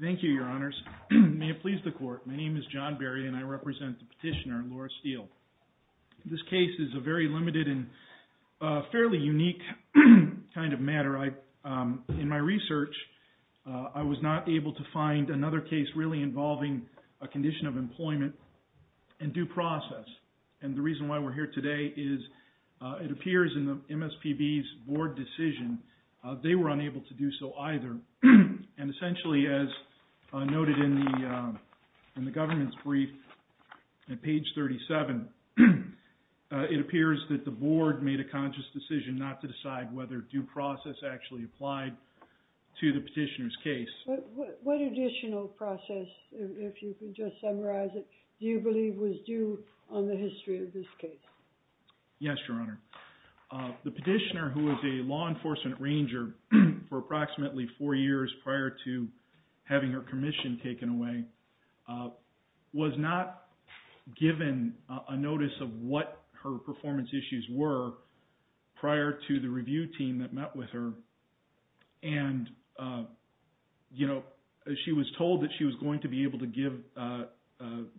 Thank you, Your Honors. May it please the Court, my name is John Berry and I represent the petitioner, Laura Steele. This case is a very limited and fairly unique kind of matter In my research, I was not able to find another case really involving a condition of employment and due process. And the reason why we're here today is it appears in the MSPB's board decision, they were unable to do so either. And essentially, as noted in the government's brief at page 37, it appears that the board made a conscious decision not to decide whether due process actually applied to the petitioner's case. What additional process, if you could just summarize it, do you believe was due on the history of this case? Yes, Your Honor. The petitioner, who was a law enforcement ranger for approximately four years prior to having her commission taken away, was not given a notice of what her performance issues were prior to the review team that met with her. And she was told that she was going to be able to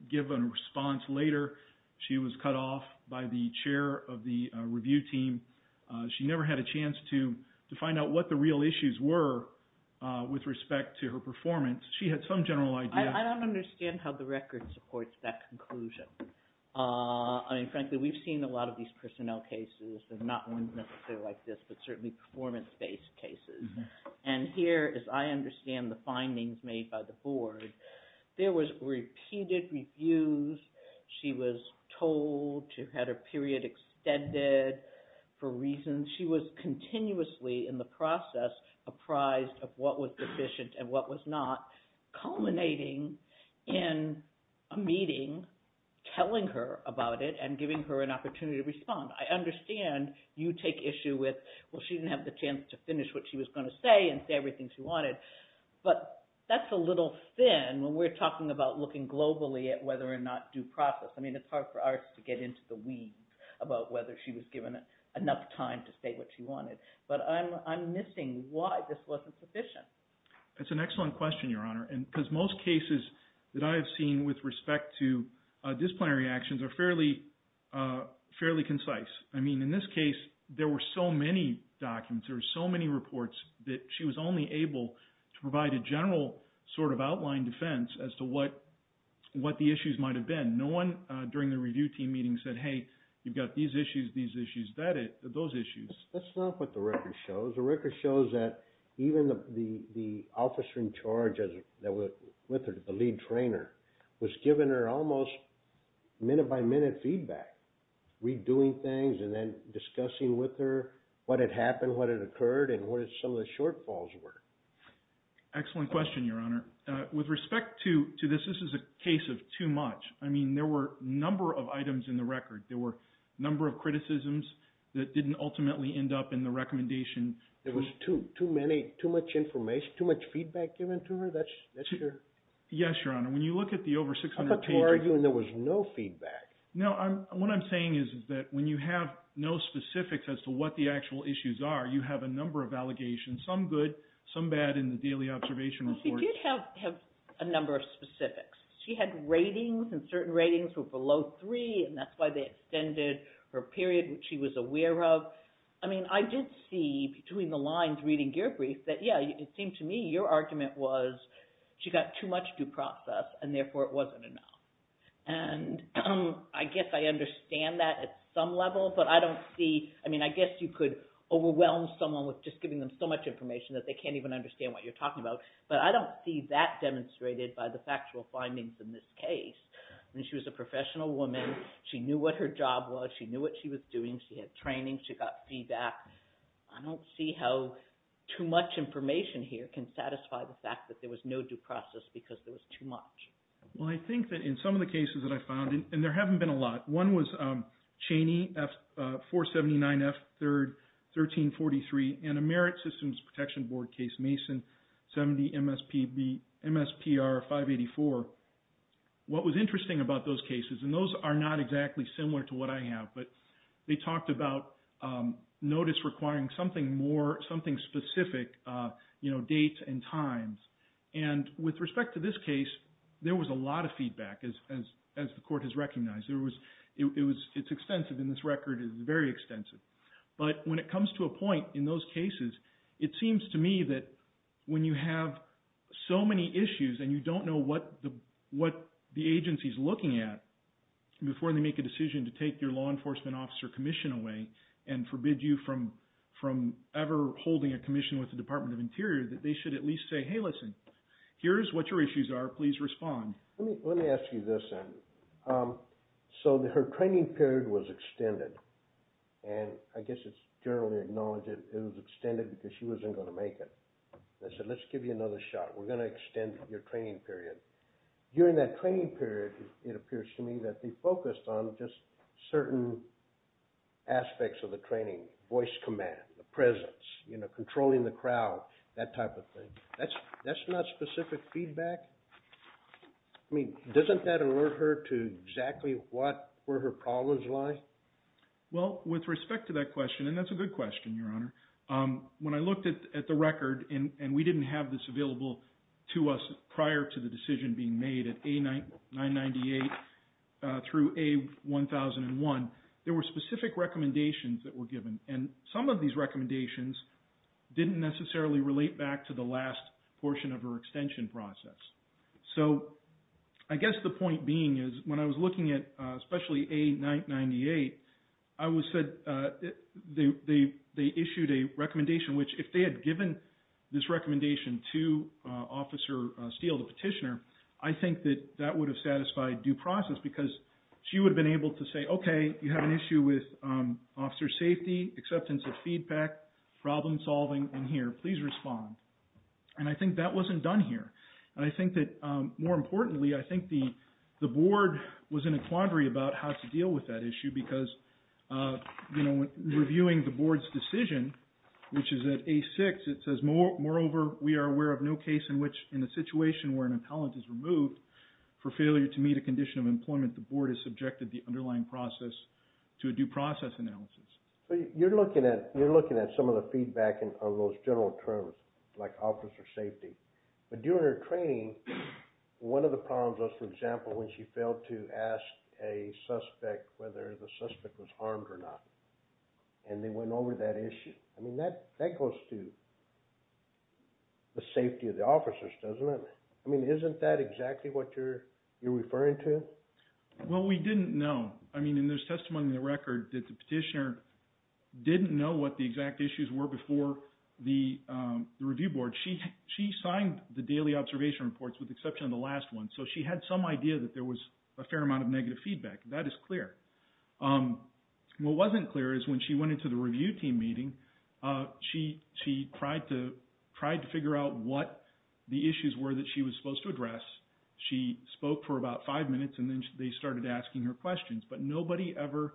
give a response later. She was cut off by the chair of the review team. She never had a chance to find out what the real I don't understand how the record supports that conclusion. I mean, frankly, we've seen a lot of these personnel cases, and not ones necessarily like this, but certainly performance-based cases. And here, as I understand the findings made by the board, there was repeated reviews. She was told she had her period extended for reasons. She was continuously in the process apprised of what was sufficient and what was not, culminating in a meeting telling her about it and giving her an opportunity to respond. I understand you take issue with, well, she didn't have the chance to finish what she was going to say and say everything she wanted. But that's a little thin when we're talking about looking globally at whether or not due process. I mean, it's hard for us to get into the weeds about whether she was given enough time to say what she wanted. But I'm missing why this wasn't sufficient. That's an excellent question, Your Honor. Because most cases that I've seen with respect to disciplinary actions are fairly concise. I mean, in this case, there were so many documents, there were so many reports that she was only able to provide a general sort of outline defense as to what the issues might have been. No one during the review team meeting said, hey, you've got these issues, these issues, those issues. That's not what the record shows. The record shows that even the officer in charge that was with her, the lead trainer, was giving her almost minute-by-minute feedback, redoing things and then discussing with her what had happened, what had occurred, and what some of the shortfalls were. Excellent question, Your Honor. With respect to this, this is a case of too much. I mean, there were a number of items in the record. There were a number of criticisms that didn't ultimately end up in the recommendation. There was too many, too much information, too much feedback given to her? That's your... Yes, Your Honor. When you look at the over 600 pages... I'm about to argue and there was no feedback. No, what I'm saying is that when you have no specifics as to what the actual issues are, you have a number of allegations, some good, some bad in the daily observation report. She did have a number of specifics. She had ratings, and certain ratings were below three, and that's why they extended her period, which she was aware of. I mean, I did see between the lines reading your brief that, yeah, it seemed to me your argument was she got too much due process and therefore it wasn't enough. And I guess I understand that at some level, but I don't see... I mean, I guess you could overwhelm someone with just giving them so much information that they can't even understand what you're talking about, but I don't see that demonstrated by the factual woman. She knew what her job was. She knew what she was doing. She had training. She got feedback. I don't see how too much information here can satisfy the fact that there was no due process because there was too much. Well, I think that in some of the cases that I found, and there haven't been a lot, one was Cheney 479 F3, 1343, and a Merit Systems Protection Board case, Mason 70 MSPR 584. What was interesting about those cases, and those are not exactly similar to what I have, but they talked about notice requiring something more, something specific, you know, dates and times. And with respect to this case, there was a lot of feedback, as the court has recognized. It's extensive, and this record is very extensive. But when it comes to a point in those cases, it seems to me that when you have so many issues, and you don't know what the agency's looking at before they make a decision to take your law enforcement officer commission away and forbid you from ever holding a commission with the Department of Interior, that they should at least say, hey, listen, here's what your issues are. Please respond. Let me ask you this then. So her training period was extended, and I guess it's generally acknowledged that it was extended because she wasn't going to make it. I said, let's give you another shot. We're going to extend your training period. During that training period, it appears to me that they focused on just certain aspects of the training, voice command, the presence, you know, controlling the crowd, that type of thing. That's not specific feedback? I mean, doesn't that alert her to exactly what were her problems like? Well, with respect to that question, and that's a good question, Your Honor, when I looked at the record, and we didn't have this available to us prior to the decision being made at A998 through A1001, there were specific recommendations that were given. And some of these recommendations didn't necessarily relate back to the last portion of her extension process. So I guess the point being is when I was looking at especially A998, I was said they issued a recommendation, which if they had given this recommendation to Officer Steele, the petitioner, I think that that would have satisfied due process because she would have been able to say, okay, you have an issue with officer safety, acceptance of feedback, problem solving in here, please respond. And I think that wasn't done here. And I think that more importantly, I think the board was in a quandary about how to deal with that issue because reviewing the board's decision, which is at A6, it says moreover, we are aware of no case in which in a situation where an appellant is removed for failure to meet a condition of employment, the board is subjected the underlying process to a due process analysis. But you're looking at some of the feedback on those general terms, like officer safety. But during her training, one of the problems was, for example, when she failed to ask a suspect whether the suspect was harmed or not. And they went over that issue. I mean, that goes to the safety of the officers, doesn't it? I mean, isn't that exactly what you're referring to? Well, we didn't know. I mean, and there's testimony in the record that the petitioner didn't know what the exact issues were before the review board. She signed the daily observation reports with the exception of the last one. So she had some idea that there was a fair amount of negative feedback. That is clear. What wasn't clear is when she went into the review team meeting, she tried to figure out what the issues were that she was supposed to address. She spoke for about five minutes and then they started asking her questions. But nobody ever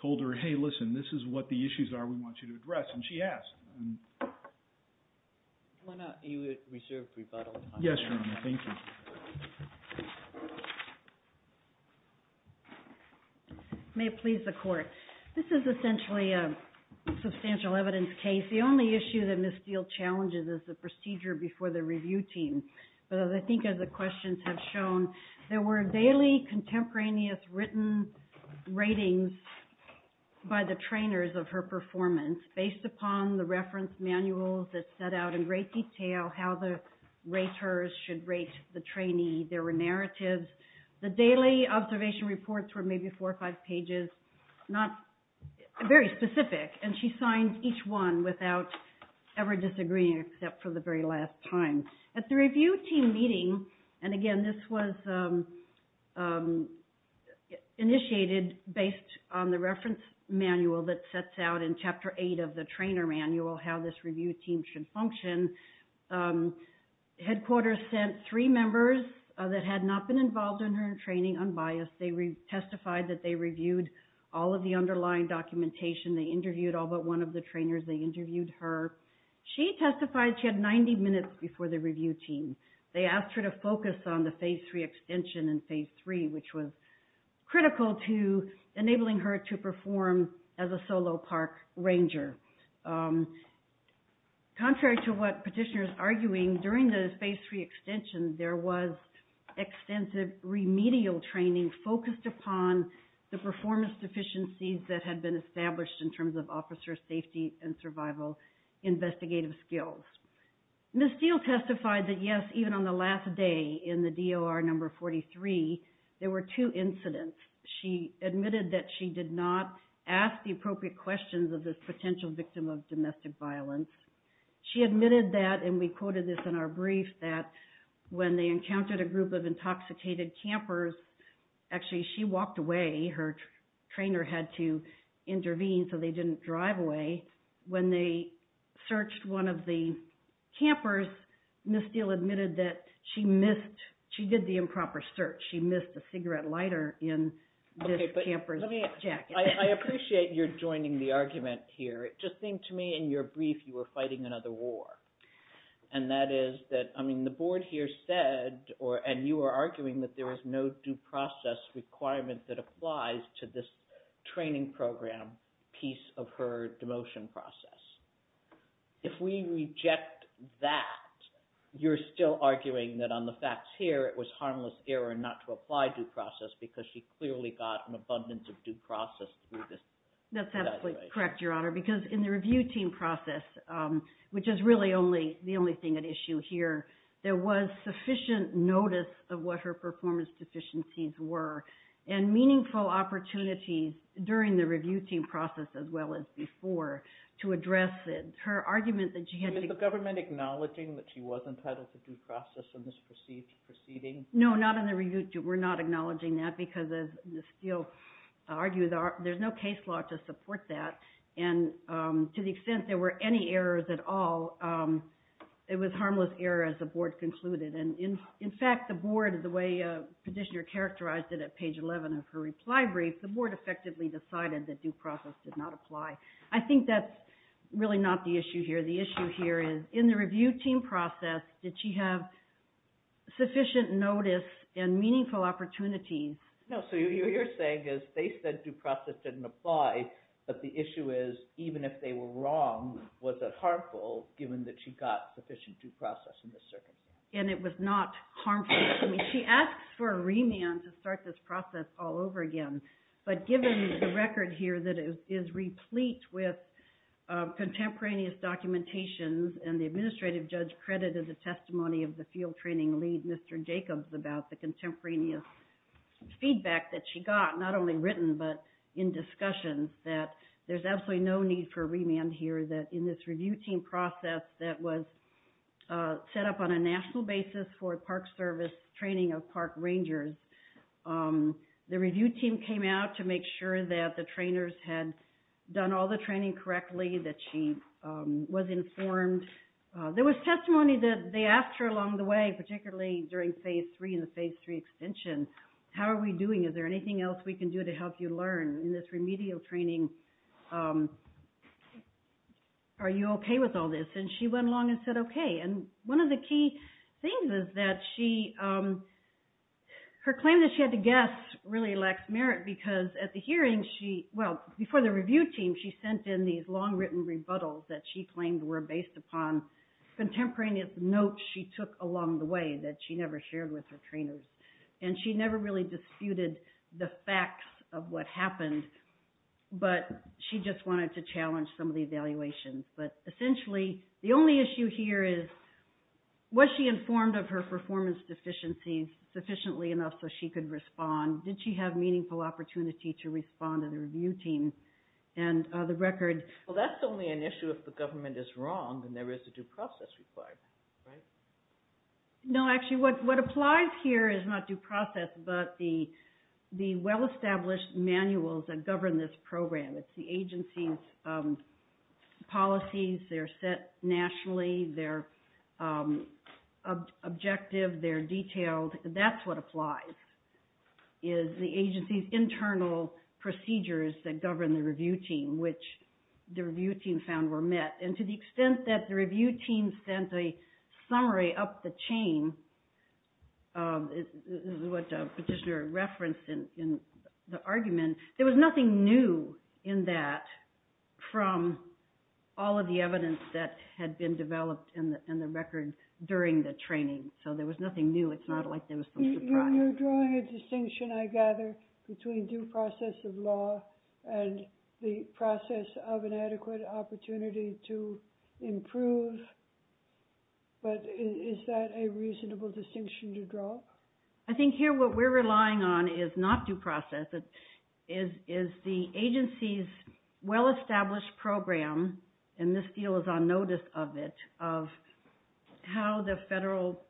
told her, hey, listen, this is what the issues are we want you to address. And she asked. Why not a reserved rebuttal? Yes, Your Honor. Thank you. May it please the Court. This is essentially a substantial evidence case. The only issue that Ms. Steele challenges is the procedure before the review team. But I think as the questions have shown, there were daily contemporaneous written ratings by the trainers of her performance based upon the reference manuals that set out in great detail how the raters should rate the trainee. There were narratives. The daily observation reports were maybe four or five pages, not very specific. And she signed each one without ever disagreeing except for the very last time. At the review team meeting, and again, this was initiated based on the reference manual that sets out in Chapter 8 of the trainer manual how this review team should function, headquarters sent three members that had not been involved in her training unbiased. They testified that they reviewed all of the underlying documentation. They interviewed all but one of the trainers. They interviewed her. She testified she had 90 minutes before the review team. They asked her to focus on the Phase 3 extension in Phase 3, which was critical to enabling her to perform as a solo park ranger. Contrary to what Petitioner is arguing, during the Phase 3 extension, there was extensive remedial training focused upon the performance deficiencies that had been established in terms of officer safety and survival investigative skills. Ms. Steele testified that yes, even on the last day in the DOR number 43, there were two incidents. She admitted that she did not ask the appropriate questions of this potential victim of domestic violence. She admitted that, and we quoted this in our brief, that when they encountered a group of intoxicated campers, actually she walked away. Her trainer had to intervene so they didn't drive away. When they searched one of the campers, Ms. Steele admitted that she missed, she did the improper search. She missed a cigarette lighter in this camper's jacket. I appreciate you're joining the argument here. It just seemed to me in your brief you were fighting another war. And that is that, I mean, the board here said, and you were arguing that there was no due process requirement that applies to this training program piece of her demotion process. If we reject that, you're still arguing that on the facts here it was harmless error not to apply due process because she clearly got an abundance of due process through this. That's absolutely correct, Your Honor, because in the review team process, which is really the only thing at issue here, there was sufficient notice of what her performance deficiencies were and meaningful opportunities during the review team process as well as before to address it. Her argument that she had to... Is the government acknowledging that she was entitled to due process in this proceeding? No, not in the review. We're not acknowledging that because, as Ms. Steele argued, there's no case law to support that. And to the extent there were any errors at all, it was harmless error as the board concluded. And in fact, the board, the way Petitioner characterized it at page 11 of her reply brief, the board effectively decided that due process did not apply. I think that's really not the issue here. The issue here is, in the review team process, did she have sufficient notice and meaningful opportunities? No, so what you're saying is they said due process didn't apply, but the issue is, even if they were wrong, was it harmful given that she got sufficient due process in this circumstance? And it was not harmful. She asked for a remand to start this process all over again, but given the record here that is replete with contemporaneous documentations and the administrative judge credited the testimony of the field training lead, Mr. Jacobs, about the contemporaneous feedback that she got, not only written but in discussions, that there's absolutely no need for in this review team process that was set up on a national basis for a park service training of park rangers. The review team came out to make sure that the trainers had done all the training correctly, that she was informed. There was testimony that they asked her along the way, particularly during phase three and the phase three extension, how are we doing? Is there are you okay with all this? And she went along and said okay. And one of the key things is that her claim that she had to guess really lacks merit because at the hearing, well before the review team, she sent in these long written rebuttals that she claimed were based upon contemporaneous notes she took along the way that she never shared with her trainers. And she never really disputed the facts of what happened, but she just wanted to challenge some of the evaluations. But essentially, the only issue here is was she informed of her performance deficiencies sufficiently enough so she could respond? Did she have meaningful opportunity to respond to the review team and the record? Well, that's only an issue if the government is wrong and there is a due process required, right? No, actually what applies here is not due process, but the well-established manuals that govern this program. It's the agency's policies. They're set nationally. They're objective. They're detailed. That's what applies is the agency's internal procedures that govern the review team, which the review team found were And to the extent that the review team sent a summary up the chain, what the petitioner referenced in the argument, there was nothing new in that from all of the evidence that had been developed in the record during the training. So there was nothing new. It's not like there was some surprise. You're drawing a distinction, I gather, between due process of law and the process of an adequate opportunity to improve. But is that a reasonable distinction to draw? I think here what we're relying on is not due process. It is the agency's well-established program, and this deal is on notice of it, of how the federal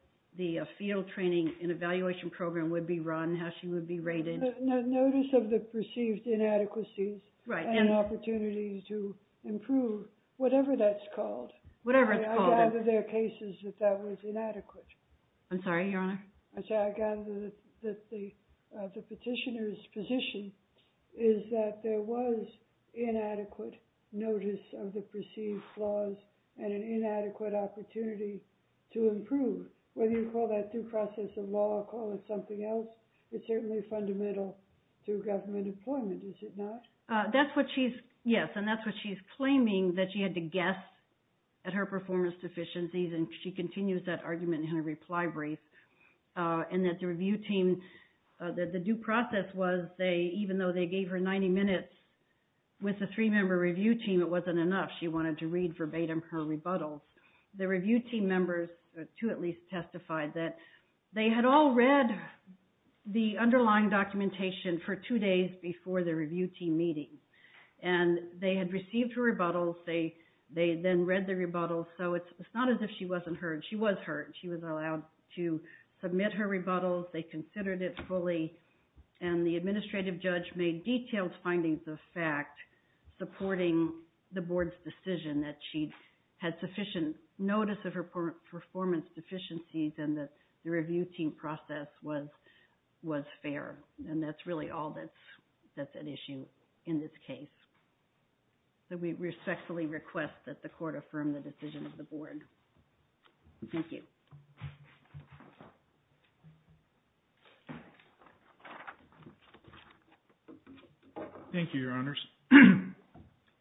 field training and evaluation program would be run, how she would be rated. Notice of the perceived inadequacies and opportunities to improve, whatever that's called. Whatever it's called. I gather there are cases that that was inadequate. I'm sorry, Your Honor? I gather that the petitioner's position is that there was inadequate notice of the perceived flaws and an inadequate opportunity to improve. Whether you call that due process of law or call it something else, it's certainly fundamental to government employment, is it not? That's what she's, yes, and that's what she's claiming, that she had to guess at her performance deficiencies, and she continues that argument in her reply brief. And that the review team, that the due process was they, even though they gave her 90 minutes with the three-member review team, it wasn't enough. She wanted to read verbatim her rebuttals. The review team members, two at least, testified that they had all read the underlying documentation for two days before the review team meeting, and they had received her rebuttals. They then read the rebuttals, so it's not as if she wasn't heard. She was heard. She was allowed to submit her rebuttals. They considered it fully, and the administrative judge made detailed findings of the board's decision that she had sufficient notice of her performance deficiencies and that the review team process was fair. And that's really all that's at issue in this case. So we respectfully request that the court affirm the decision of the board. Thank you. Thank you, Your Honors.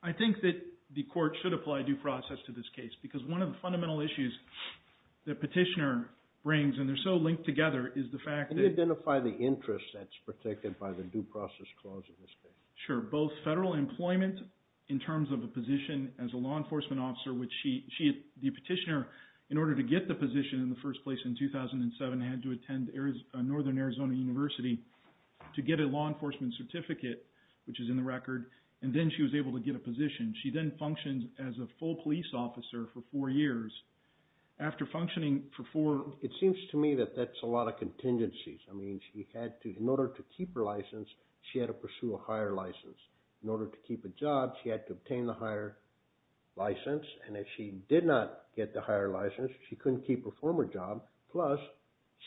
I think that the court should apply due process to this case, because one of the fundamental issues that Petitioner brings, and they're so linked together, is the fact that... Can you identify the interest that's protected by the due process clause in this case? Sure. Both federal employment in terms of a position as a law enforcement officer, which the Petitioner, in order to get the position in the first place in 2007, had to attend Northern Arizona University to get a law enforcement certificate, which is in the record, and then she was able to get a position. She then functioned as a full police officer for four years. After functioning for four... It seems to me that that's a lot of contingencies. I mean, in order to keep her license, she had to pursue a higher license. In order to keep a job, she had to obtain the higher license. And if she did not get the higher license, she couldn't keep her former job. Plus,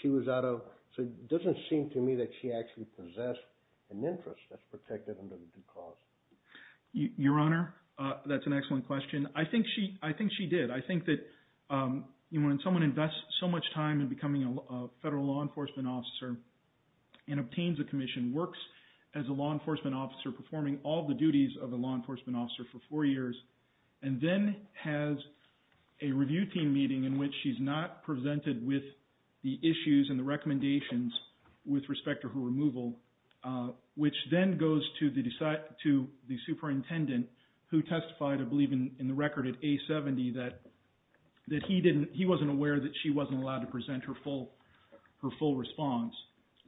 she was out of... So it doesn't seem to me that she actually possessed an interest that's protected under the due cause. Your Honor, that's an excellent question. I think she did. I think that when someone invests so much time in becoming a federal law enforcement officer and obtains a commission, works as a law enforcement officer, performing all the duties of a law enforcement officer for four years, and then has a review team meeting in which she's not presented with the issues and the recommendations with respect to her removal, which then goes to the superintendent, who testified, I believe in the record, at A-70, that he wasn't aware that she wasn't allowed to present her full response,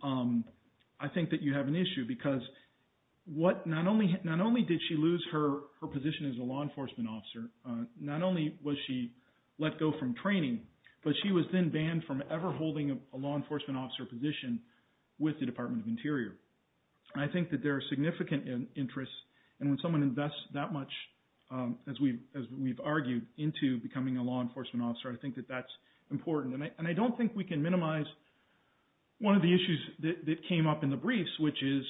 I think that you have an issue. Because not only did she lose her position as a law enforcement officer, not only was she let go from training, but she was then banned from ever holding a law enforcement officer position with the Department of Interior. I think that there are significant interests. And when someone invests that much, as we've argued, into becoming a law enforcement officer, I think that that's important. And I don't think we can minimize one of the issues that came up in the briefs, which is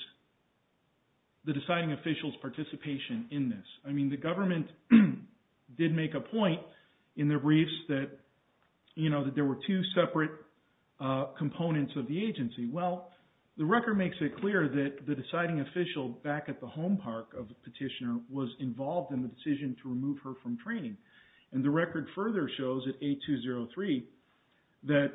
the deciding official's participation in this. I mean, the government did make a point in the briefs that there were two separate components of the agency. Well, the record makes it clear that the deciding official back at the home park of the petitioner was involved in the decision to remove her from training. And the record further shows at A-203 that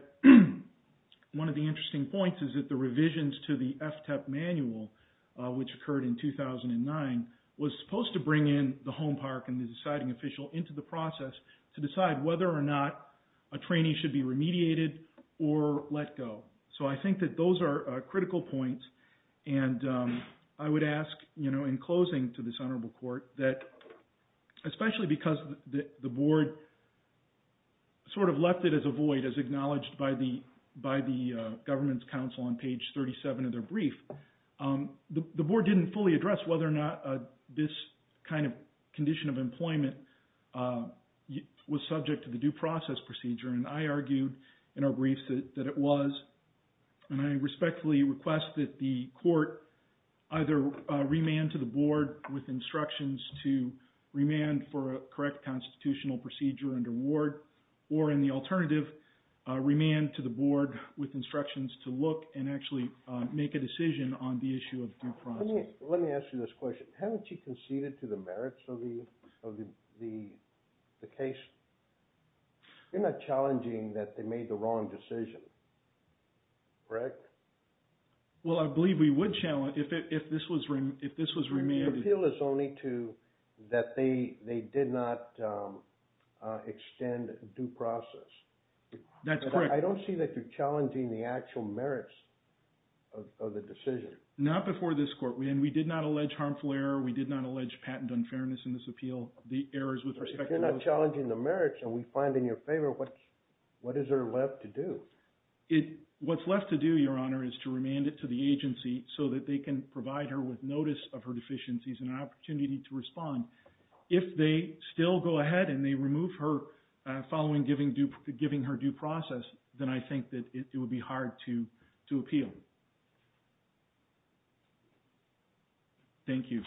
one of the interesting points is that the revisions to the FTEP manual, which occurred in 2009, was supposed to bring in the home park and the deciding official into the process to decide whether or not a trainee should be remediated or let go. So I think that those are critical points. And I would ask, in closing to this honorable court, that especially because the board sort of left it as a void, as acknowledged by the government's counsel on page 37 of their brief, the board didn't fully address whether or not this kind of condition of employment was subject to the due process procedure. And I argued in our briefs that it was. And I respectfully request that the court either remand to the board with instructions to remand for a correct constitutional procedure and award, or in the alternative, remand to the board with instructions to look and actually make a decision on the issue of due process. Let me ask you this question. Haven't you conceded to the merits of the case? You're not challenging that they made the wrong decision, correct? Well, I believe we would challenge if this was remanded. The appeal is only to that they did not extend due process. That's correct. I don't see that you're challenging the actual merits of the decision. Not before this court. And we did not allege harmful error. We did not allege patent unfairness in this appeal. The errors with respect to those... You're not challenging the merits, and we find in your favor, what is there left to do? What's left to do, Your Honor, is to remand it to the agency so that they can provide her with notice of her deficiencies and an opportunity to respond. If they still go ahead and they remove her following giving her due process, then I think that it would be hard to appeal. Thank you.